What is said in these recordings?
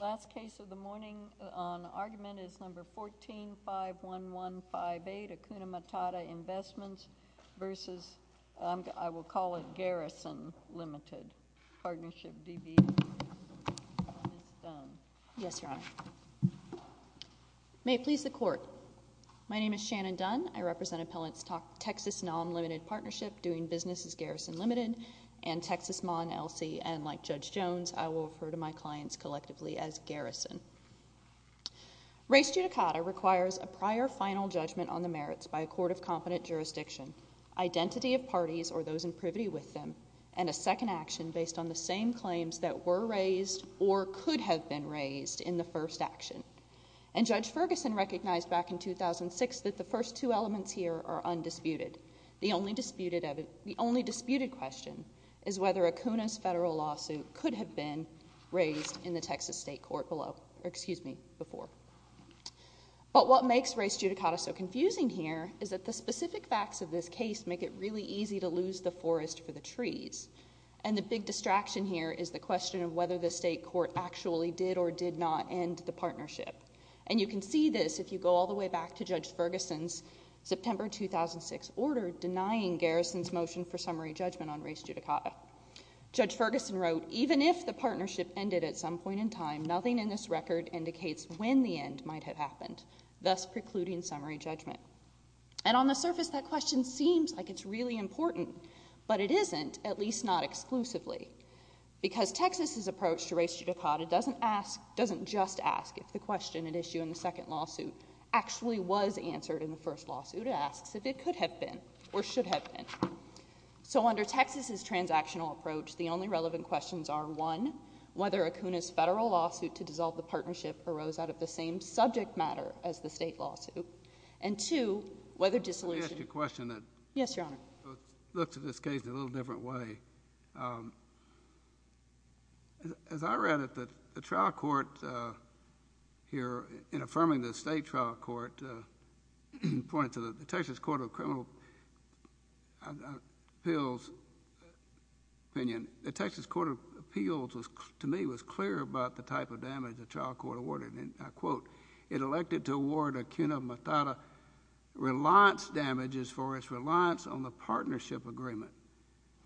Last case of the morning on argument is number 14-51158, Akuna Matata Investments v. I will call it Garrison Limited, Partnership D.B. Yes, Your Honor. May it please the Court. My name is Shannon Dunn. I represent Appellant's Texas NOM Limited Partnership, doing business as Garrison Limited and Texas Mon-ELSI, and like Judge Jones, I will refer to my clients collectively as Garrison. Race judicata requires a prior final judgment on the merits by a court of competent jurisdiction, identity of parties or those in privity with them, and a second action based on the same claims that were raised or could have been raised in the first action. And Judge Ferguson recognized back in 2006 that the first two elements here are undisputed. The only disputed question is whether Akuna's federal lawsuit could have been raised in the Texas State Court before. But what makes race judicata so confusing here is that the specific facts of this case make it really easy to lose the forest for the trees. And the big distraction here is the question of whether the state court actually did or did not end the partnership. And you can see this if you go all the way back to Judge Ferguson's September 2006 order denying Garrison's motion for summary judgment on race judicata. Judge Ferguson wrote, even if the partnership ended at some point in time, nothing in this record indicates when the end might have happened, thus precluding summary judgment. And on the surface, that question seems like it's really important, but it isn't, at least not exclusively. Because Texas's approach to race judicata doesn't just ask if the question at issue in the second lawsuit actually was answered in the first lawsuit. It asks if it could have been or should have been. So under Texas's transactional approach, the only relevant questions are, one, whether Akuna's federal lawsuit to dissolve the partnership arose out of the same subject matter as the state lawsuit. And two, whether dissolution— Let me ask you a question that— Yes, Your Honor. It looks, in this case, a little different way. As I read it, the trial court here, in affirming the state trial court, pointed to the Texas Court of Criminal Appeals opinion. The Texas Court of Appeals, to me, was clear about the type of damage the trial court awarded. And I quote, it elected to award Akuna Matata reliance damages for his reliance on the partnership agreement.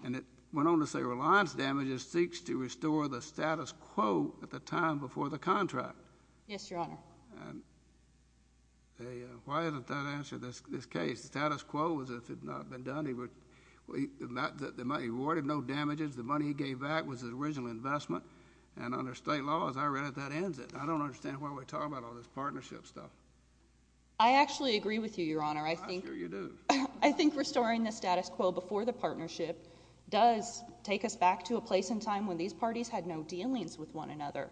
And it went on to say, reliance damages seeks to restore the status quo at the time before the contract. Yes, Your Honor. Why isn't that answered in this case? The status quo was if it had not been done, he would—he awarded no damages. The money he gave back was his original investment. And under state law, as I read it, that ends it. I think it's a good question. I think it's a good question. I think it's a good question. It's a good question. It's a good question when we're talking about all this partnership stuff. I actually agree with you, Your Honor. I'm sure you do. I think restoring the status quo before the partnership does take us back to a place and time when these parties had no dealings with one another.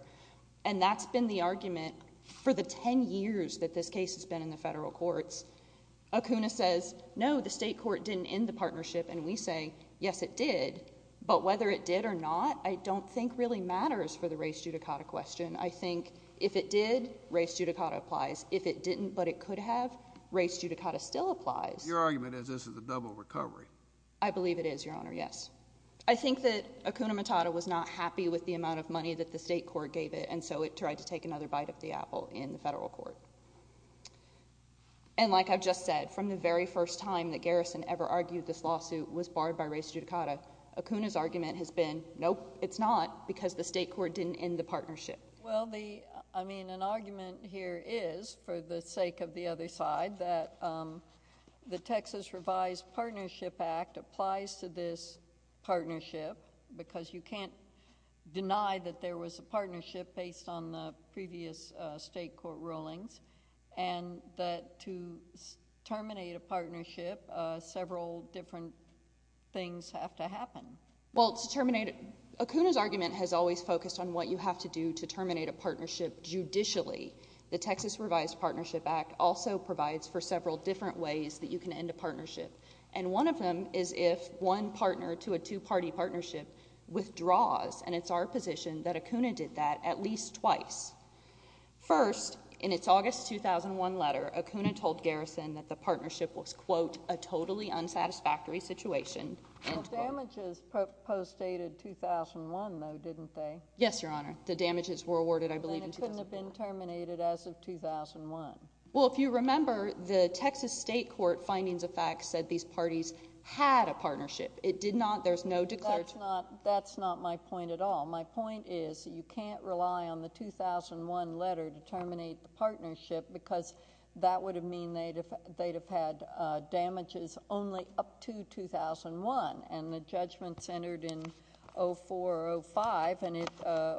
And that's been the argument for the 10 years that this case has been in the federal courts. Akuna says, no, the state court didn't end the partnership. And we say, yes, it did. But whether it did or not, I don't think really matters for the race judicata question. I think if it did, race judicata applies. If it didn't, but it could have, race judicata still applies. Your argument is this is a double recovery. I believe it is, Your Honor, yes. I think that Akuna Matata was not happy with the amount of money that the state court gave it and so it tried to take another bite of the apple in the federal court. And like I've just said, from the very first time that Garrison ever argued this lawsuit was barred by race judicata, Akuna's argument has been, nope, it's not, because the state court didn't end the partnership. Well, the, I mean, an argument here is, for the sake of the other side, that the Texas Revised Partnership Act applies to this partnership because you can't deny that there was a partnership based on the previous state court rulings and that to terminate a partnership, several different things have to happen. Well, to terminate, Akuna's argument has always focused on what you have to do to terminate a partnership judicially. The Texas Revised Partnership Act also provides for several different ways that you can end a partnership. And one of them is if one partner to a two-party partnership withdraws. And it's our position that Akuna did that at least twice. First, in its August 2001 letter, Akuna told Garrison that the partnership was, quote, a totally unsatisfactory situation, end quote. But the damages postdated 2001, though, didn't they? Yes, Your Honor. The damages were awarded, I believe, in 2004. Then it couldn't have been terminated as of 2001. Well, if you remember, the Texas state court findings of fact said these parties had a partnership. It did not, there's no declared... That's not, that's not my point at all. My point is you can't rely on the 2001 letter to terminate the partnership because that would have mean they'd have had damages only up to 2001. And the judgment centered in 04 or 05, and it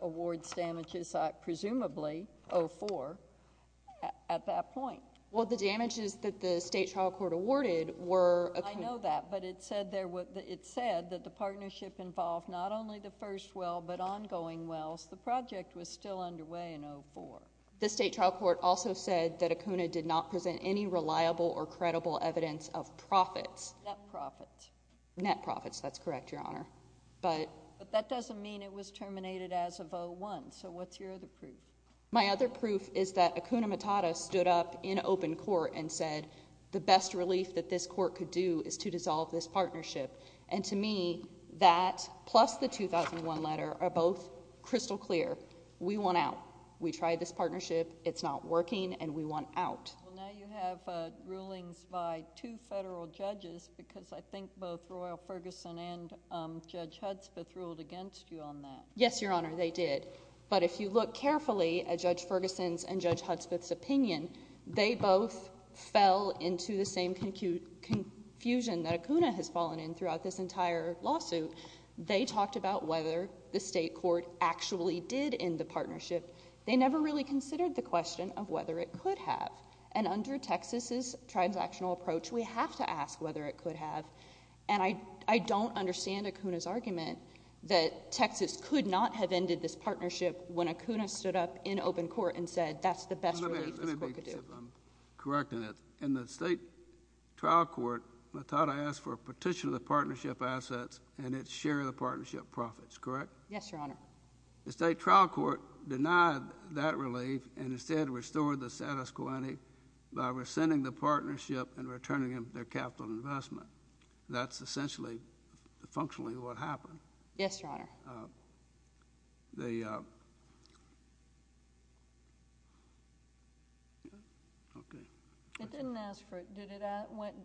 awards damages at, presumably, 04 at that point. Well, the damages that the state trial court awarded were... I know that. But it said there, it said that the partnership involved not only the first well, but ongoing wells. The project was still underway in 04. The state trial court also said that Acuna did not present any reliable or credible evidence of profits. Net profits. Net profits, that's correct, Your Honor. But... But that doesn't mean it was terminated as of 01, so what's your other proof? My other proof is that Acuna Matata stood up in open court and said the best relief that this court could do is to dissolve this partnership. And to me, that plus the 2001 letter are both crystal clear. We want out. We tried this partnership. It's not working, and we want out. Well, now you have rulings by two federal judges, because I think both Royal Ferguson and Judge Hudspeth ruled against you on that. Yes, Your Honor, they did. But if you look carefully at Judge Ferguson's and Judge Hudspeth's opinion, they both fell into the same confusion that Acuna has fallen in throughout this entire lawsuit. They talked about whether the state court actually did end the partnership. They never really considered the question of whether it could have. And under Texas's transactional approach, we have to ask whether it could have. And I don't understand Acuna's argument that Texas could not have ended this partnership when Acuna stood up in open court and said that's the best relief this court could do. Let me be correct in that. The state trial court, I thought I asked for a petition of the partnership assets and its share of the partnership profits, correct? Yes, Your Honor. The state trial court denied that relief and instead restored the status quo ante by rescinding the partnership and returning them their capital investment. That's essentially, functionally what happened. Yes, Your Honor. It didn't ask for,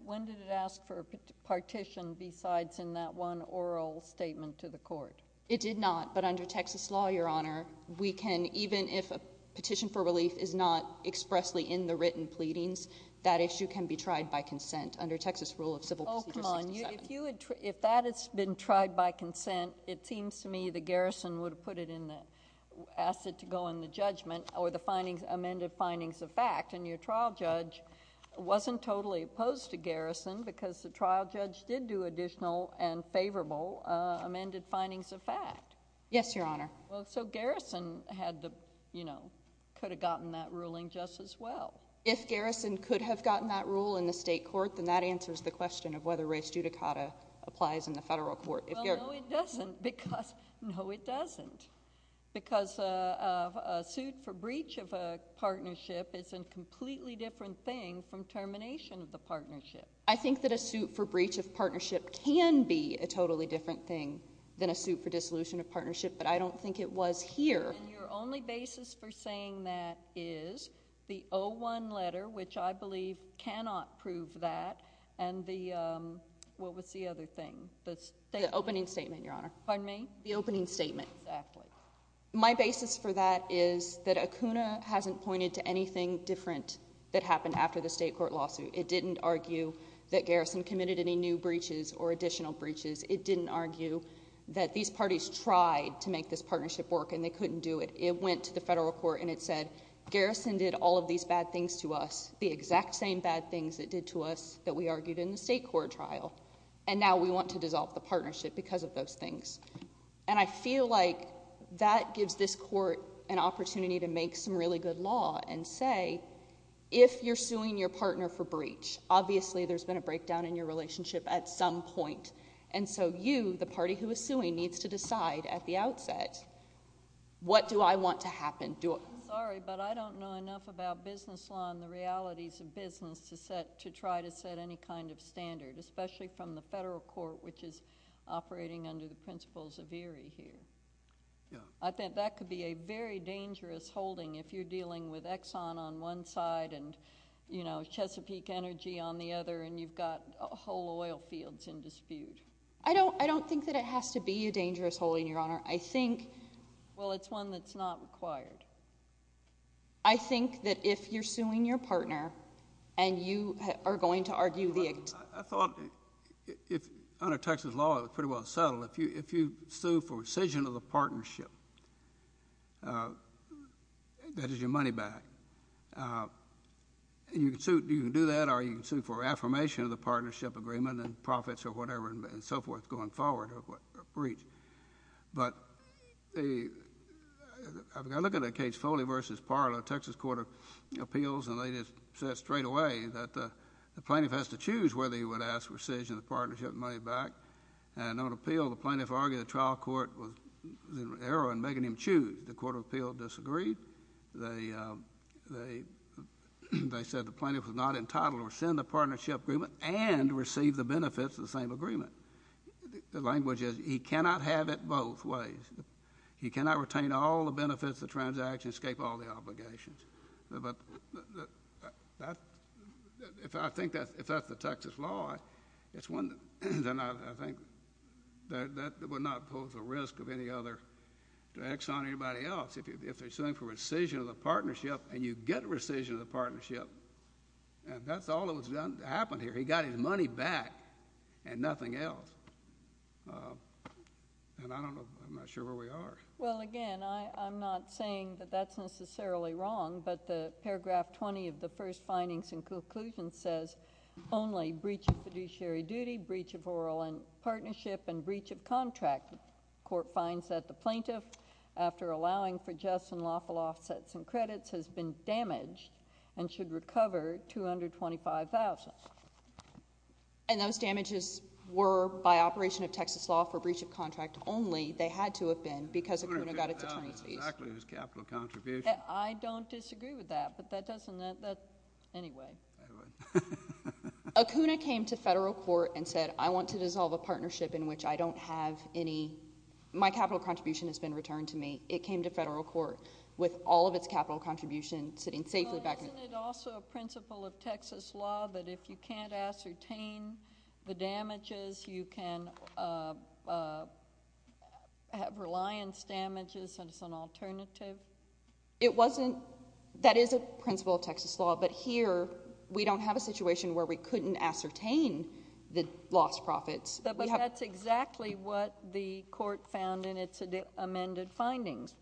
when did it ask for a partition besides in that one oral statement to the court? It did not, but under Texas law, Your Honor, we can, even if a petition for relief is not expressly in the written pleadings, that issue can be tried by consent under Texas rule of civil procedure 67. If that has been tried by consent, it seems to me the garrison would have put it in the, asked it to go in the judgment or the amended findings of fact, and your trial judge wasn't totally opposed to garrison because the trial judge did do additional and favorable amended findings of fact. Yes, Your Honor. Well, so garrison had to, you know, could have gotten that ruling just as well. If garrison could have gotten that rule in the state court, then that answers the question of whether res judicata applies in the federal court. Well, no, it doesn't because, no, it doesn't, because a suit for breach of a partnership is a completely different thing from termination of the partnership. I think that a suit for breach of partnership can be a totally different thing than a suit for dissolution of partnership, but I don't think it was here. And your only basis for saying that is the 01 letter, which I believe cannot prove that, and the, what was the other thing? The opening statement, Your Honor. Pardon me? The opening statement. Exactly. My basis for that is that ACUNA hasn't pointed to anything different that happened after the state court lawsuit. It didn't argue that garrison committed any new breaches or additional breaches. It didn't argue that these parties tried to make this partnership work and they couldn't do it. It went to the federal court and it said garrison did all of these bad things to us, the exact same bad things it did to us that we argued in the state court trial, and now we want to dissolve the partnership because of those things. And I feel like that gives this court an opportunity to make some really good law and say, if you're suing your partner for breach, obviously there's been a breakdown in your relationship at some point, and so you, the party who is suing, needs to decide at the outset, what do I want to happen? I'm sorry, but I don't know enough about business law and the realities of business to set, to try to set any kind of standard, especially from the federal court, which is operating under the principles of ERIE here. I think that could be a very dangerous holding if you're dealing with Exxon on one side and, you know, Chesapeake Energy on the other, and you've got whole oil fields in dispute. I don't think that it has to be a dangerous holding, Your Honor. I think... Well, it's one that's not required. I think that if you're suing your partner, and you are going to argue the... I thought, under Texas law, it was pretty well settled. If you sue for rescission of the partnership, that is your money back. You can sue, you can do that, or you can sue for affirmation of the partnership agreement and profits or whatever and so forth going forward or a breach. But I look at the case Foley v. Parler, Texas Court of Appeals, and they just said straight away that the plaintiff has to choose whether he would ask rescission of the partnership money back. And on appeal, the plaintiff argued the trial court was in error in making him choose. The Court of Appeals disagreed. They said the plaintiff was not entitled to rescind the partnership agreement and receive the benefits of the same agreement. The language is, he cannot have it both ways. He cannot retain all the benefits of the transaction, escape all the obligations. If that's the Texas law, then I think that would not pose a risk of any other... to Exxon or anybody else. If they're suing for rescission of the partnership, and you get rescission of the partnership, and that's all that was done to happen here. He got his money back and nothing else. And I don't know. I'm not sure where we are. Well, again, I'm not saying that that's necessarily wrong, but the paragraph 20 of the first findings and conclusions says only breach of fiduciary duty, breach of oral partnership, and breach of contract. The court finds that the plaintiff, after allowing for just and lawful offsets and credits, has been damaged and should recover $225,000. And those damages were by operation of Texas law for breach of contract only. They had to have been because Acuna got its attorney's fees. I don't agree with that. It's exactly his capital contribution. I don't disagree with that, but that doesn't... anyway. Acuna came to federal court and said, I want to dissolve a partnership in which I don't have any... my capital contribution has been returned to me. It came to federal court with all of its capital contribution sitting safely back... But isn't it also a principle of Texas law that if you can't ascertain the damages, you can have reliance damages as an alternative? It wasn't... that is a principle of Texas law, but here we don't have a situation where we couldn't ascertain the lost profits. But that's exactly what the court found in its amended findings.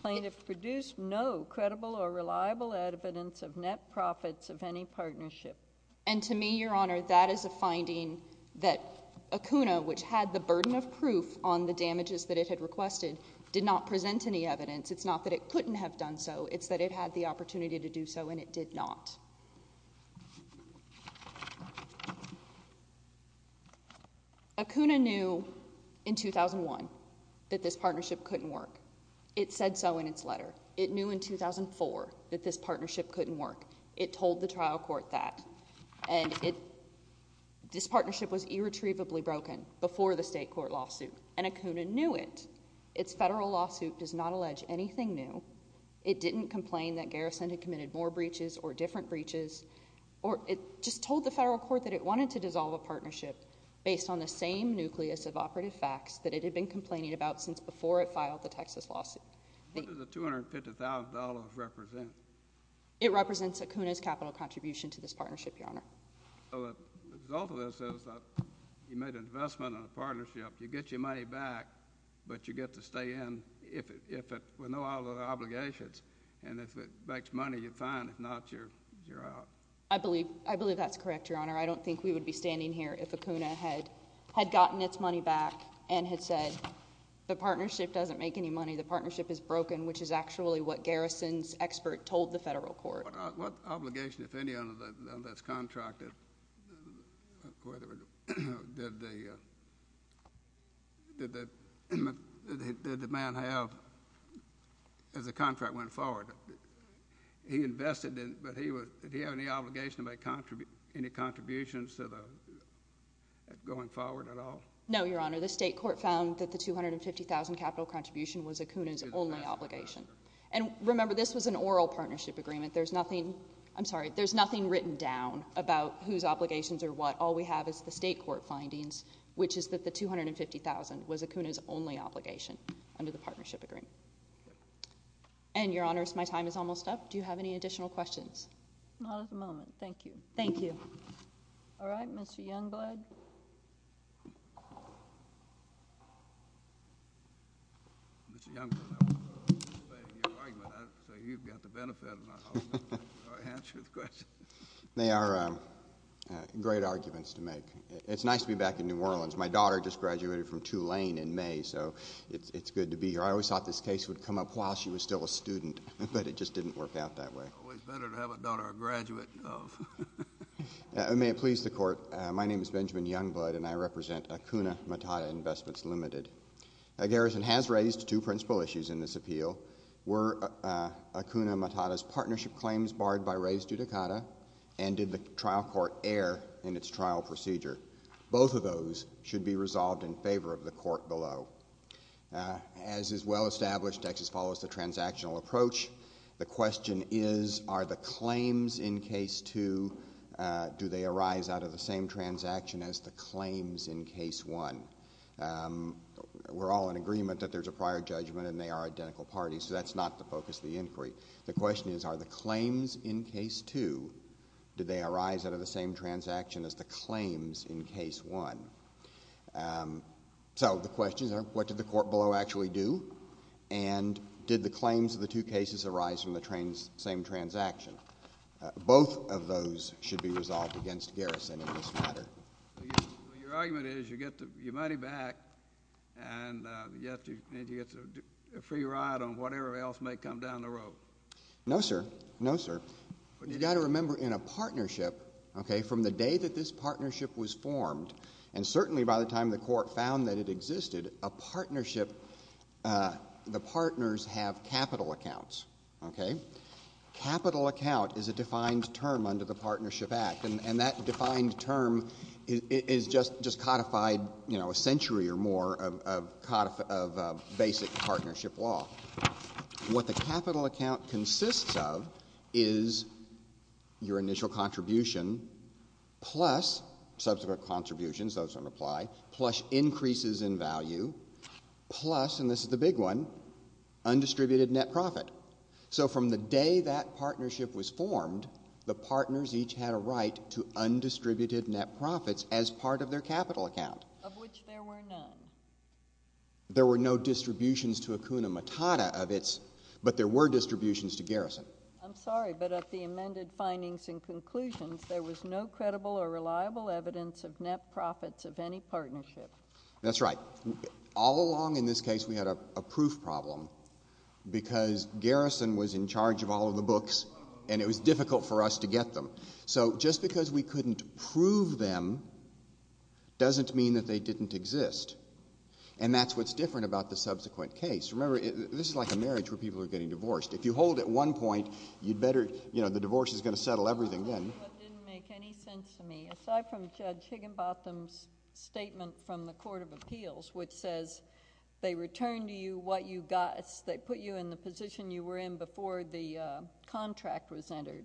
Plaintiff produced no credible or reliable evidence of net profits of any partnership. And to me, Your Honor, that is a finding that Acuna, which had the burden of proof on the damages that it had requested, did not present any evidence. It's not that it couldn't have done so. It's that it had the opportunity to do so, and it did not. Acuna knew in 2001 that this partnership couldn't work. It said so in its letter. It knew in 2004 that this partnership couldn't work. It told the trial court that. And it... this partnership was irretrievably broken before the state court lawsuit. And Acuna knew it. Its federal lawsuit does not allege anything new. It didn't complain that Garrison had committed more breaches or different breaches, or it just told the federal court that it wanted to dissolve a partnership based on the same nucleus of operative facts that it had been complaining about since before it filed the Texas lawsuit. What does the $250,000 represent? It represents Acuna's capital contribution to this partnership, Your Honor. So the result of this is that you made an investment in a partnership, you get your money back, but you get to stay in if it... with no other obligations, and if it makes money, you're fine. If not, you're out. I believe... I believe that's correct, Your Honor. I don't think we would be standing here if Acuna had gotten its money back and had said the partnership doesn't make any money, the partnership is broken, which is actually what Garrison's expert told the federal court. What obligation, if any, on this contract did the man have as the contract went forward? He invested, but did he have any obligation to make any contributions going forward at all? No, Your Honor. The state court found that the $250,000 capital contribution was Acuna's only obligation. And remember, this was an oral partnership agreement. There's nothing... I'm sorry, there's nothing written down about whose obligations or what. All we have is the state court findings, which is that the $250,000 was Acuna's only obligation under the partnership agreement. And Your Honor, my time is almost up. Do you have any additional questions? Not at the moment. Thank you. Thank you. All right. Mr. Youngblood? Mr. Youngblood, I appreciate your argument. So you've got the benefit of not answering the questions. They are great arguments to make. It's nice to be back in New Orleans. My daughter just graduated from Tulane in May, so it's good to be here. I always thought this case would come up while she was still a student, but it just didn't work out that way. It's always better to have a daughter a graduate of. May it please the Court, my name is Benjamin Youngblood, and I represent Acuna Matata Investments Limited. Garrison has raised two principal issues in this appeal. Were Acuna Matata's partnership claims barred by raised judicata, and did the trial court err in its trial procedure? Both of those should be resolved in favor of the Court below. As is well established, Texas follows the transactional approach. The question is, are the claims in case two, do they arise out of the same transaction as the claims in case one? We're all in agreement that there's a prior judgment and they are identical parties, so that's not the focus of the inquiry. The question is, are the claims in case two, do they arise out of the same transaction as the claims in case one? So the questions are, what did the Court below actually do, and did the claims of the two cases arise from the same transaction? Both of those should be resolved against Garrison in this matter. Your argument is you get your money back and you get a free ride on whatever else may come down the road. No, sir. No, sir. You've got to remember in a partnership, okay, from the day that this partnership was formed, and certainly by the time the Court found that it existed, a partnership, the partners have capital accounts, okay? Capital account is a defined term under the Partnership Act, and that defined term is just codified, you know, a century or more of basic partnership law. What the capital account consists of is your initial contribution plus subsequent contributions, those don't apply, plus increases in value, plus, and this is the big one, undistributed net profit. So from the day that partnership was formed, the partners each had a right to undistributed net profits as part of their capital account. Of which there were none. There were no distributions to Acuna Matata of its, but there were distributions to Garrison. I'm sorry, but at the amended findings and conclusions, there was no credible or reliable evidence of net profits of any partnership. That's right. All along in this case, we had a proof problem, because Garrison was in charge of all of the books, and it was difficult for us to get them. So just because we couldn't prove them, doesn't mean that they didn't exist. And that's what's different about the subsequent case. Remember, this is like a marriage where people are getting divorced. If you hold at one point, you'd better, you know, the divorce is going to settle everything then. It didn't make any sense to me, aside from Judge Higginbotham's statement from the Court of Appeals, which says, they return to you what you got, they put you in the position you were in before the contract was entered.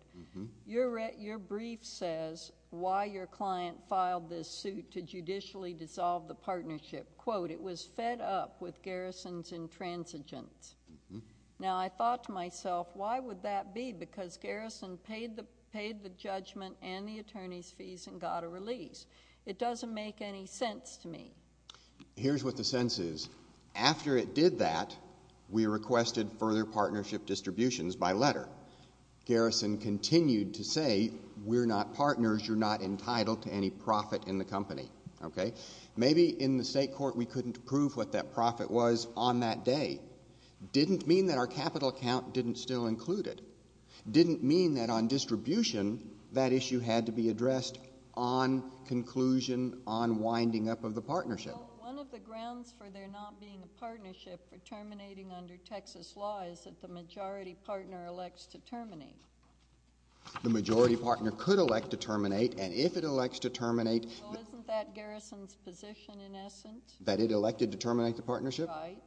Your brief says, why your client filed this suit to judicially dissolve the partnership. Quote, it was fed up with Garrison's intransigence. Now I thought to myself, why would that be? Because Garrison paid the judgment and the attorney's fees and got a release. It doesn't make any sense to me. Here's what the sense is. After it did that, we requested further partnership distributions by letter. Garrison continued to say, we're not partners, you're not entitled to any profit in the company. Okay? Maybe in the state court we couldn't prove what that profit was on that day. Didn't mean that our capital account didn't still include it. Didn't mean that on distribution, that issue had to be addressed on conclusion, on winding up of the partnership. Well, one of the grounds for there not being a partnership for terminating under Texas law is that the majority partner elects to terminate. The majority partner could elect to terminate, and if it elects to terminate Well, isn't that Garrison's position in essence? That it elected to terminate the partnership? Right.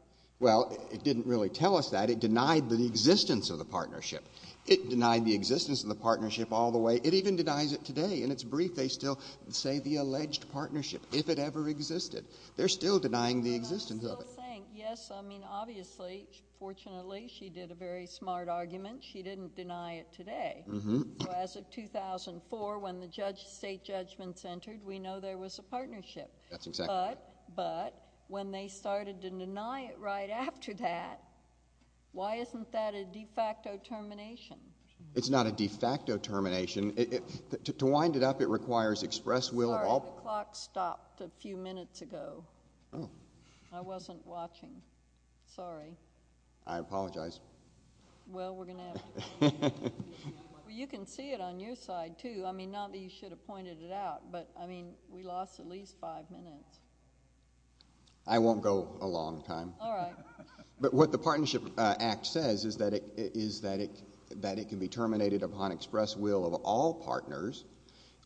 Well, it didn't really tell us that. It denied the existence of the partnership. It denied the existence of the partnership all the way. It even denies it today. In its brief, they still say the alleged partnership, if it ever existed. They're still denying the existence of it. I'm still saying, yes, I mean, obviously, fortunately, she did a very smart argument. She didn't deny it today. So as of 2004, when the state judgments entered, we know there was a partnership. That's exactly right. But when they started to deny it right after that, why isn't that a de facto termination? It's not a de facto termination. To wind it up, it requires express will of all Sorry. The clock stopped a few minutes ago. I wasn't watching. Sorry. I apologize. Well, we're going to have to continue. You can see it on your side, too. I mean, not that you should have pointed it out, but, I mean, we lost at least five minutes. I won't go a long time. All right. But what the Partnership Act says is that it can be terminated upon express will of all partners,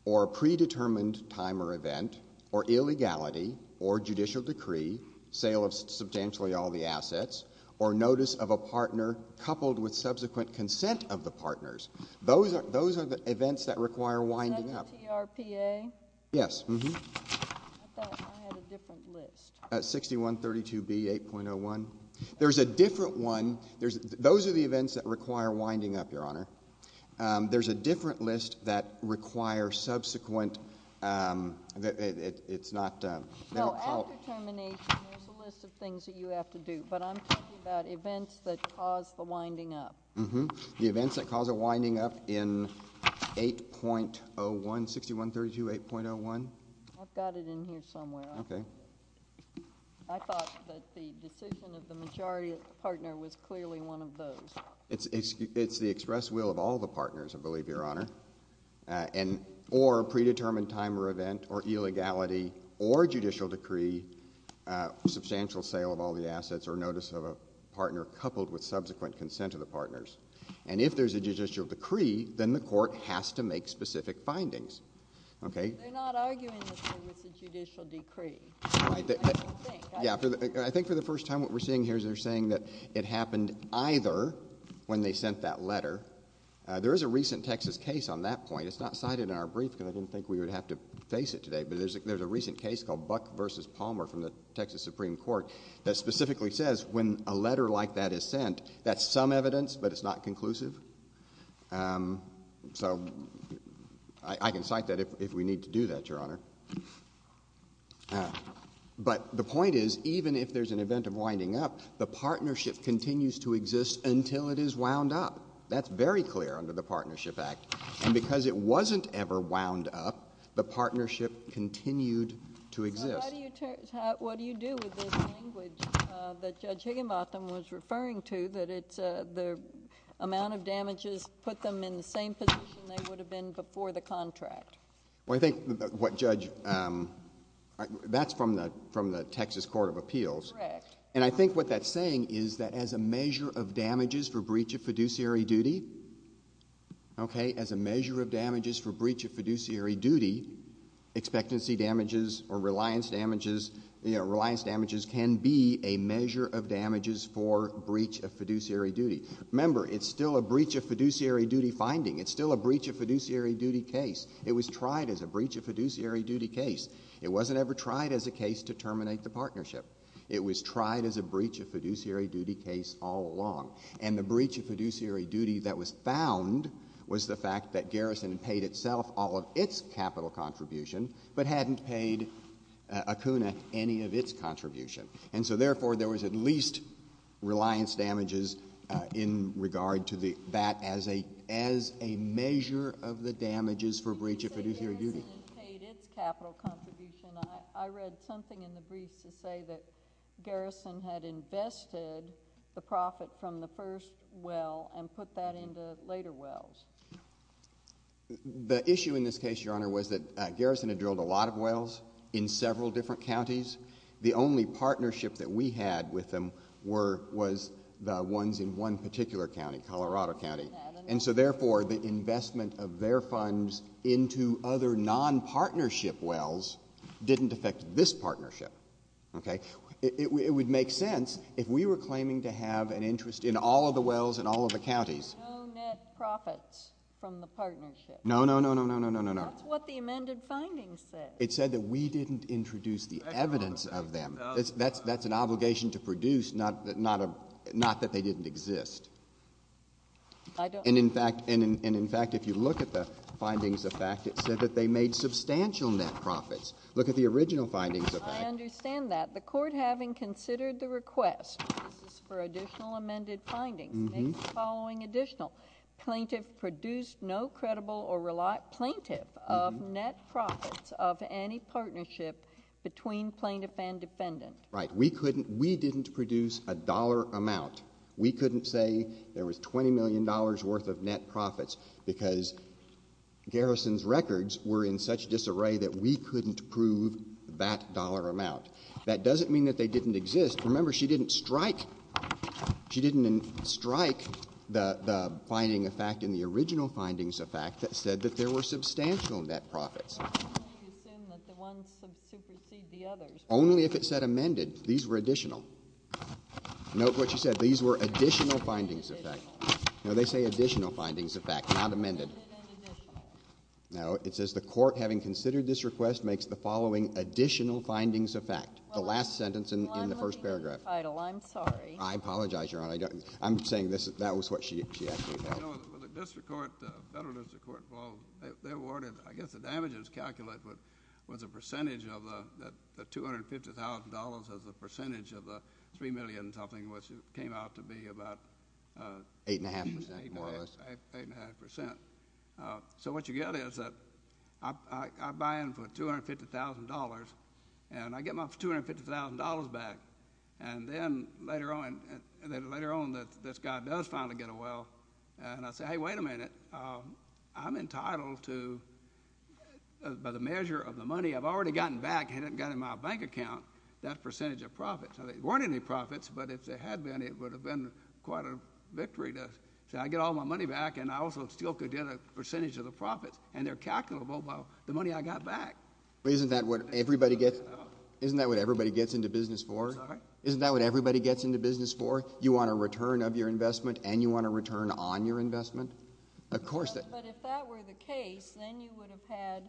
or a predetermined time or event, or illegality, or judicial decree, sale of substantially all the assets, or notice of a partner coupled with subsequent consent of the partners. Those are the events that require winding up. Is that the TRPA? Yes. I thought I had a different list. 6132B, 8.01. There's a different one. Those are the events that require winding up, Your Honor. There's a different list that require subsequent, it's not No. After termination, there's a list of things that you have to do. Thank you. Thank you. Thank you. Thank you. Thank you. Thank you. Thank you. Thank you. Thank you. Thank you. Thank you. This one requires winding up in 8.01, 6132, 8.01. I've got it in here somewhere. Okay. I thought that the decision of the majority of the partner was clearly one of those. It's express will of all the partners, I believe Your Honor, or predetermined time or event, or illegality, or judicial decree or substantial sale of all the assets, or notice of a partner coupled with subsequent consent of the parters. And if there's a judicial decree, then the court has to make specific findings. Okay? They're not arguing that there was a judicial decree. I think for the first time what we're seeing here is they're saying that it happened either when they sent that letter. There is a recent Texas case on that point. It's not cited in our brief because I didn't think we would have to face it today. But there's a recent case called Buck v. Palmer from the Texas Supreme Court that specifically says when a letter like that is sent, that's some evidence, but it's not conclusive. So I can cite that if we need to do that, Your Honor. But the point is, even if there's an event of winding up, the partnership continues to exist until it is wound up. That's very clear under the Partnership Act. And because it wasn't ever wound up, the partnership continued to exist. What do you do with this language that Judge Higginbotham was referring to, that the amount of damages put them in the same position they would have been before the contract? Well, I think what Judge — that's from the Texas Court of Appeals. Correct. And I think what that's saying is that as a measure of damages for breach of fiduciary duty — okay? Reliance damages can be a measure of damages for breach of fiduciary duty. Remember, it's still a breach of fiduciary duty finding. It's still a breach of fiduciary duty case. It was tried as a breach of fiduciary duty case. It wasn't ever tried as a case to terminate the partnership. It was tried as a breach of fiduciary duty case all along. And the breach of fiduciary duty that was found was the fact that Garrison had paid itself all of its capital contribution but hadn't paid Acuna any of its contribution. And so, therefore, there was at least reliance damages in regard to that as a measure of the damages for breach of fiduciary duty. You say Garrison had paid its capital contribution. I read something in the briefs that say that Garrison had invested the profit from the first well and put that into later wells. The issue in this case, Your Honor, was that Garrison had drilled a lot of wells in several different counties. The only partnership that we had with them was the ones in one particular county, Colorado County. And so, therefore, the investment of their funds into other nonpartnership wells didn't affect this partnership, okay? It would make sense if we were claiming to have an interest in all of the wells in all of the counties. There were no net profits from the partnership. No, no, no, no, no, no, no, no, no. That's what the amended findings said. It said that we didn't introduce the evidence of them. That's an obligation to produce, not that they didn't exist. And in fact, if you look at the findings of fact, it said that they made substantial net profits. Look at the original findings of fact. I understand that. The court, having considered the request, this is for additional amended findings, makes the following additional. Plaintiff produced no credible or reliable plaintiff of net profits of any partnership between plaintiff and defendant. Right. We couldn't, we didn't produce a dollar amount. We couldn't say there was $20 million worth of net profits because Garrison's records were in such disarray that we couldn't prove that dollar amount. That doesn't mean that they didn't exist. Remember, she didn't strike, she didn't strike the finding of fact in the original findings of fact that said that there were substantial net profits. You assume that the ones that supersede the others. Only if it said amended. These were additional. Note what she said. These were additional findings of fact. No, they say additional findings of fact, not amended. No, it says the court, having considered this request, makes the following additional findings of fact. The last sentence in the first paragraph. I'm leaving the title. I'm sorry. I apologize, Your Honor. I'm saying that was what she actually held. No, the district court, the federal district court, well, they awarded, I guess the damages calculate was a percentage of the $250,000 as a percentage of the $3 million something which came out to be about 8.5% more or less. 8.5%. So what you get is that I buy in for $250,000 and I get my $250,000 back and I get my $250,000 I get my $250,000 back. I get my $250,000 back. I get my $250,000 back. And then later on, later on this guy does finally get a well and I say, hey, wait a minute. I'm entitled to, by the measure of the money I've already gotten back and it got in my bank account, that percentage of profits. Now, there weren't any profits, but if there had been, it would have been quite a victory to say I get all my money back and I also still could get a percentage of the profits and they're calculable by the money I got back. Isn't that what everybody gets? No. Isn't that what everybody gets into business for? Sorry? Isn't that what everybody gets into business for? You want a return of your investment and you want a return on your investment? Of course. But if that were the case, then you would have had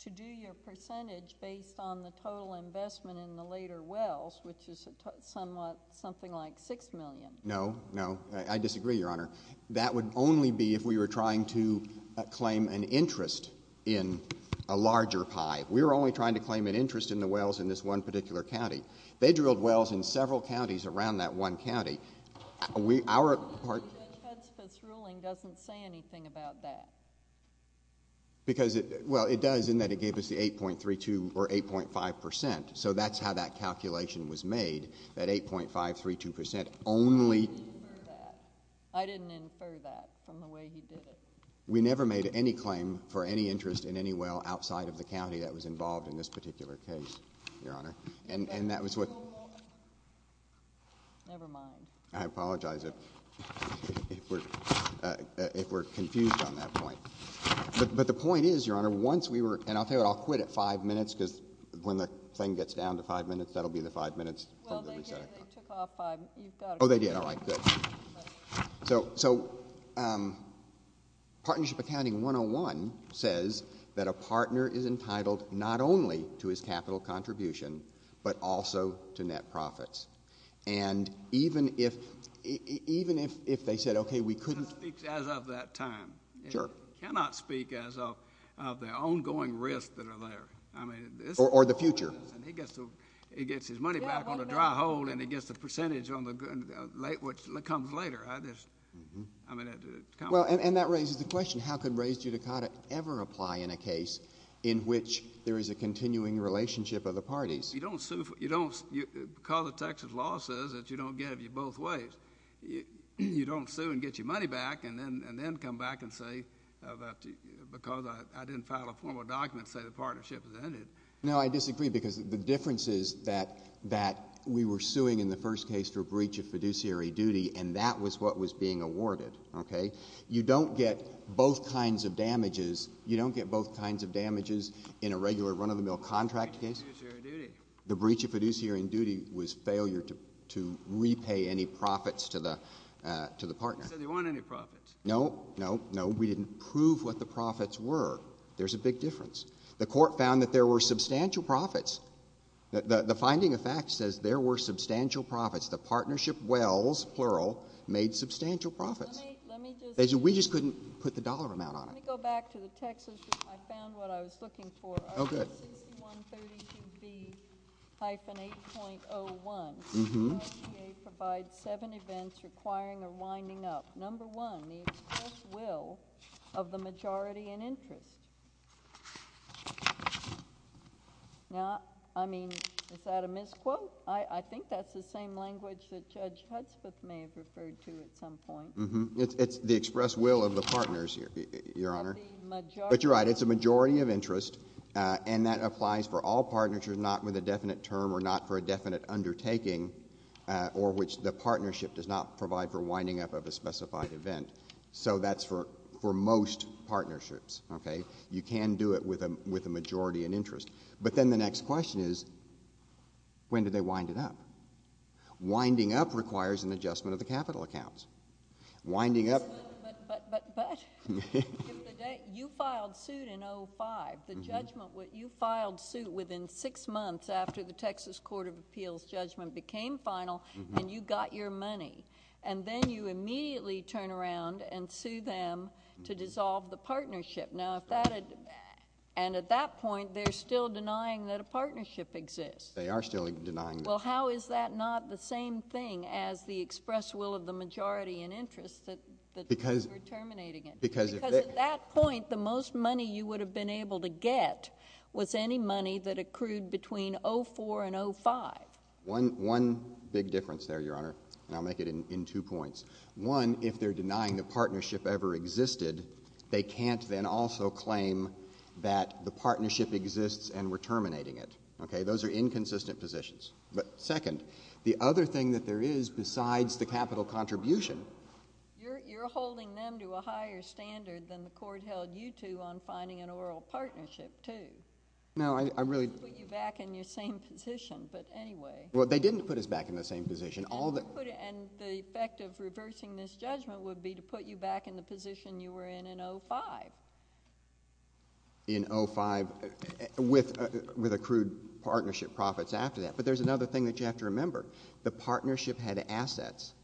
to do your percentage based on the total investment in the later wells, which is somewhat, something like $6 million. No, no. I disagree, Your Honor. That would only be if we were trying to claim an interest in a larger pie. We were only trying to claim an interest in the wells in this one particular county. They drilled wells in several counties around that one county. Judge Hudspeth's ruling doesn't say anything about that. Because it, well, it does in that it gave us the 8.32 or 8.5 percent, so that's how that calculation was made, that 8.532 percent only I didn't infer that. I didn't infer that from the way he did it. We never made any claim for any interest in any well outside of the county that was involved in this particular case, Your Honor. And that was what Never mind. I apologize if we're, if we're confused on that point. But the point is, Your Honor, once we were, and I'll tell you what, I'll quit at five minutes because when the thing gets down to five minutes, that'll be the five minutes Well, they took off five. Oh, they did. All right. Good. So, so Partnership Accounting 101 says that a partner is entitled not only to his capital contribution, but also to net profits. And even if, even if, if they said, okay, we couldn't It speaks as of that time. Sure. It cannot speak as of the ongoing risks that are there. I mean Or the future. And he gets to, he gets his money back on a dry hold and he gets the percentage on the late, which comes later. I just, I mean, Well, and that raises the question. How could res judicata ever apply in a case in which there is a continuing relationship of the parties? You don't sue for, you don't, because the Texas law says that you don't get it both ways. You don't sue and get your money back and then, and then come back and say that because I didn't file a formal document, say the partnership is ended. No, I disagree because the difference is that, that we were suing in the first case for breach of fiduciary duty. And that was what was being awarded. Okay. You don't get both kinds of damages. You don't get both kinds of damages in a regular run of the mill contract case. The breach of fiduciary duty was failure to, to repay any profits to the, uh, to the partner. You said they weren't any profits. No, no, no. We didn't prove what the profits were. There's a big difference. The court found that there were substantial profits. The, the, the finding of fact says there were substantial profits. The partnership wells, plural, made substantial profits. Let me, let me just. We just couldn't put the dollar amount on it. Let me go back to the Texas. I found what I was looking for. Oh, good. Article 6132B-8.01. Mm-hmm. The FDA provides seven events requiring a winding up. Number one, the express will of the majority in interest. Now, I mean, is that a misquote? I, I think that's the same language that Judge Hudspeth may have referred to at some point. Mm-hmm. It's, it's the express will of the partners, Your, Your Honor. And the majority. But you're right. It's a majority of interest, uh, and that applies for all partners. You're not with a definite term or not for a definite undertaking, uh, or which the partnership does not provide for winding up of a specified event. So that's for, for most partnerships, okay? You can do it with a, with a majority in interest. But then the next question is, when do they wind it up? Winding up requires an adjustment of the capital accounts. Winding up. But, but, but, but. If the date, you filed suit in 05. Mm-hmm. The judgment, you filed suit within six months after the Texas Court of Appeals judgment became final. Mm-hmm. And you got your money. And then you immediately turn around and sue them to dissolve the partnership. Now, if that had, and at that point, they're still denying that a partnership exists. They are still denying that. Well, how is that not the same thing as the express will of the majority in interest that, that you were terminating it? Because, because if they. Because at that point, the most money you would have been able to get was any money that accrued between 04 and 05. One, one big difference there, Your Honor, and I'll make it in, in two points. One, if they're denying the partnership ever existed, they can't then also claim that the partnership exists and we're terminating it. Okay? Those are inconsistent positions. But second, the other thing that there is besides the capital contribution. You're, you're holding them to a higher standard than the court held you to on finding an oral partnership, too. No, I, I really. They didn't put you back in your same position, but anyway. Well, they didn't put us back in the same position. All that. And the effect of reversing this judgment would be to put you back in the position you were in in 05. In 05, with, with accrued partnership profits after that. But there's another thing that you have to remember. The partnership had assets.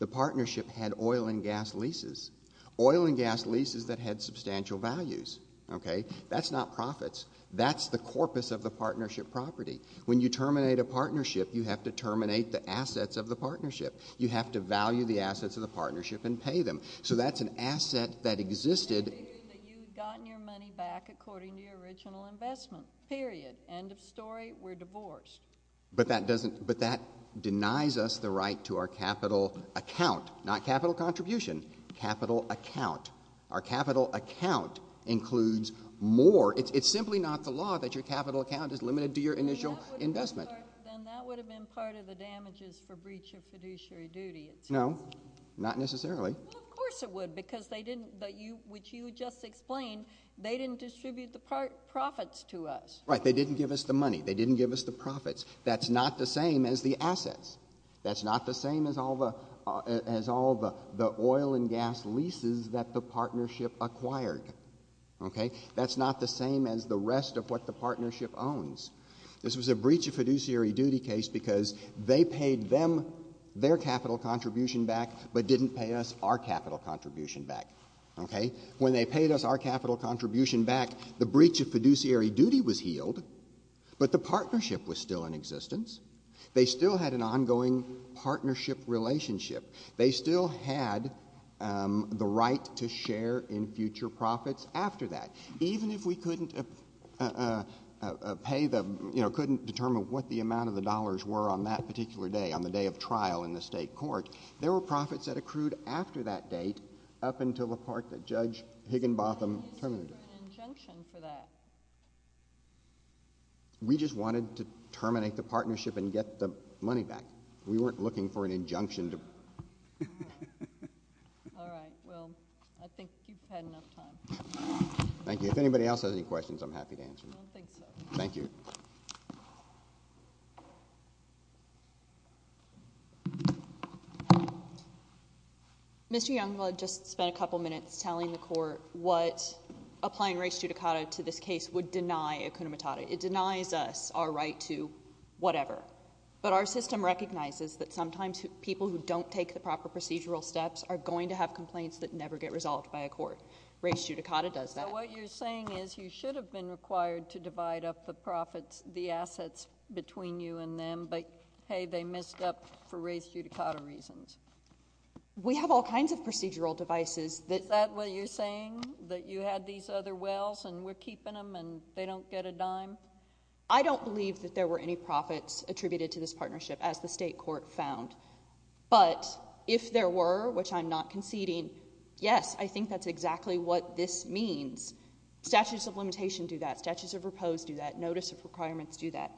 The partnership had oil and gas leases. Oil and gas leases that had substantial values. Okay? That's not profits. That's the corpus of the partnership property. When you terminate a partnership, you have to terminate the assets of the partnership. You have to value the assets of the partnership and pay them. So that's an asset that existed. I figured that you had gotten your money back according to your original investment. Period. End of story. We're divorced. But that doesn't, but that denies us the right to our capital account. Not capital contribution. Capital account. Our capital account includes more. It's simply not the law that your capital account is limited to your initial investment. Then that would have been part of the damages for breach of fiduciary duty. No. Not necessarily. Well, of course it would. Because they didn't, but you, which you just explained, they didn't distribute the profits to us. Right. They didn't give us the money. They didn't give us the profits. That's not the same as the assets. That's not the same as all the, as all the, the oil and gas leases that the partnership acquired. Okay? That's not the same as the rest of what the partnership owns. This was a breach of fiduciary duty case because they paid them their capital contribution back, but didn't pay us our capital contribution back. Okay? When they paid us our capital contribution back, the breach of fiduciary duty was healed, but the partnership was still in existence. They still had an ongoing partnership relationship. They still had the right to share in future profits after that. Even if we couldn't pay the, you know, couldn't determine what the amount of the dollars were on that particular day, on the day of trial in the state court, there were profits that accrued after that date up until the part that Judge Higginbotham terminated. Why didn't you do an injunction for that? We just wanted to terminate the partnership and get the money back. We weren't looking for an injunction to... All right. Well, I think you've had enough time. Thank you. If anybody else has any questions, I'm happy to answer them. I don't think so. Thank you. Mr. Youngblood just spent a couple minutes telling the court what applying race judicata to this case would deny a cunnatata. It denies us our right to whatever. But our system recognizes that sometimes people who don't take the proper procedural steps are going to have complaints that never get resolved by a court. Race judicata does that. So what you're saying is you should have been required to divide up the profits, the assets between you and them, but, hey, they messed up for race judicata reasons. We have all kinds of procedural devices that... Is that what you're saying, that you had these other wells and we're keeping them and they don't get a dime? I don't believe that there were any profits attributed to this partnership, as the state court found. But if there were, which I'm not conceding, yes, I think that's exactly what this means. Statutes of limitation do that. Statutes of repose do that. Notice of requirements do that.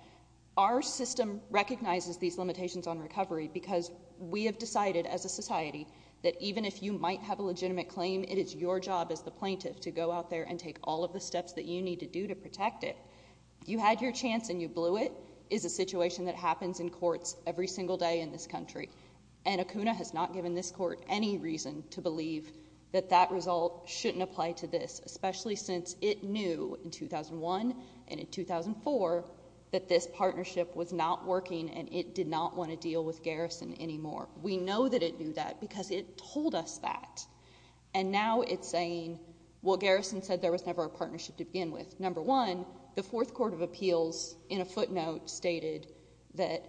Our system recognizes these limitations on recovery because we have decided as a society that even if you might have a legitimate claim, it is your job as the plaintiff to go out there and take all of the steps that you need to do to protect it. You had your chance and you blew it is a situation that happens in courts every single day in this country. And ACUNA has not given this court any reason to believe that that result shouldn't apply to this, especially since it knew in 2001 and in 2004 that this partnership was not working and it did not want to deal with Garrison anymore. We know that it knew that because it told us that. And now it's saying, well, Garrison said there was never a partnership to begin with. Number one, the Fourth Court of Appeals in a footnote stated that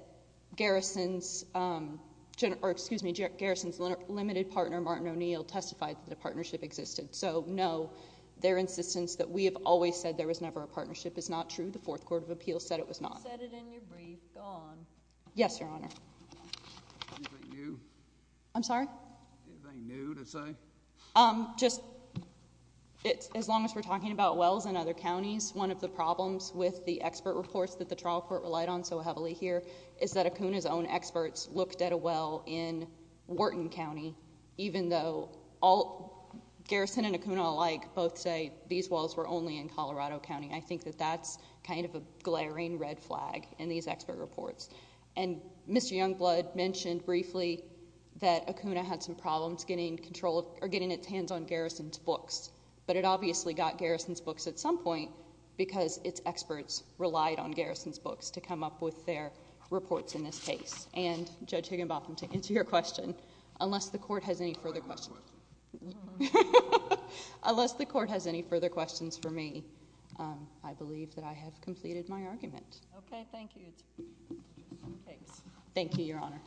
Garrison's limited partner, Martin O'Neill, testified that a partnership existed. So no, their insistence that we have always said there was never a partnership is not true. The Fourth Court of Appeals said it was not. You said it in your brief. Go on. Yes, Your Honor. Anything new? I'm sorry? Anything new to say? Just as long as we're talking about wells in other counties, one of the problems with the expert reports that the trial court relied on so heavily here is that ACUNA's own experts looked at a well in Wharton County, even though Garrison and ACUNA alike both say these wells were only in Colorado County. I think that that's kind of a glaring red flag in these expert reports. And Mr. Youngblood mentioned briefly that ACUNA had some problems getting control or getting its hands on Garrison's books. But it obviously got Garrison's books at some point because its experts relied on Garrison's books to come up with their reports in this case. And Judge Higginbotham, to answer your question, unless the court has any further questions for me, I believe that I have completed my argument. Okay, thank you. Thank you, Your Honor.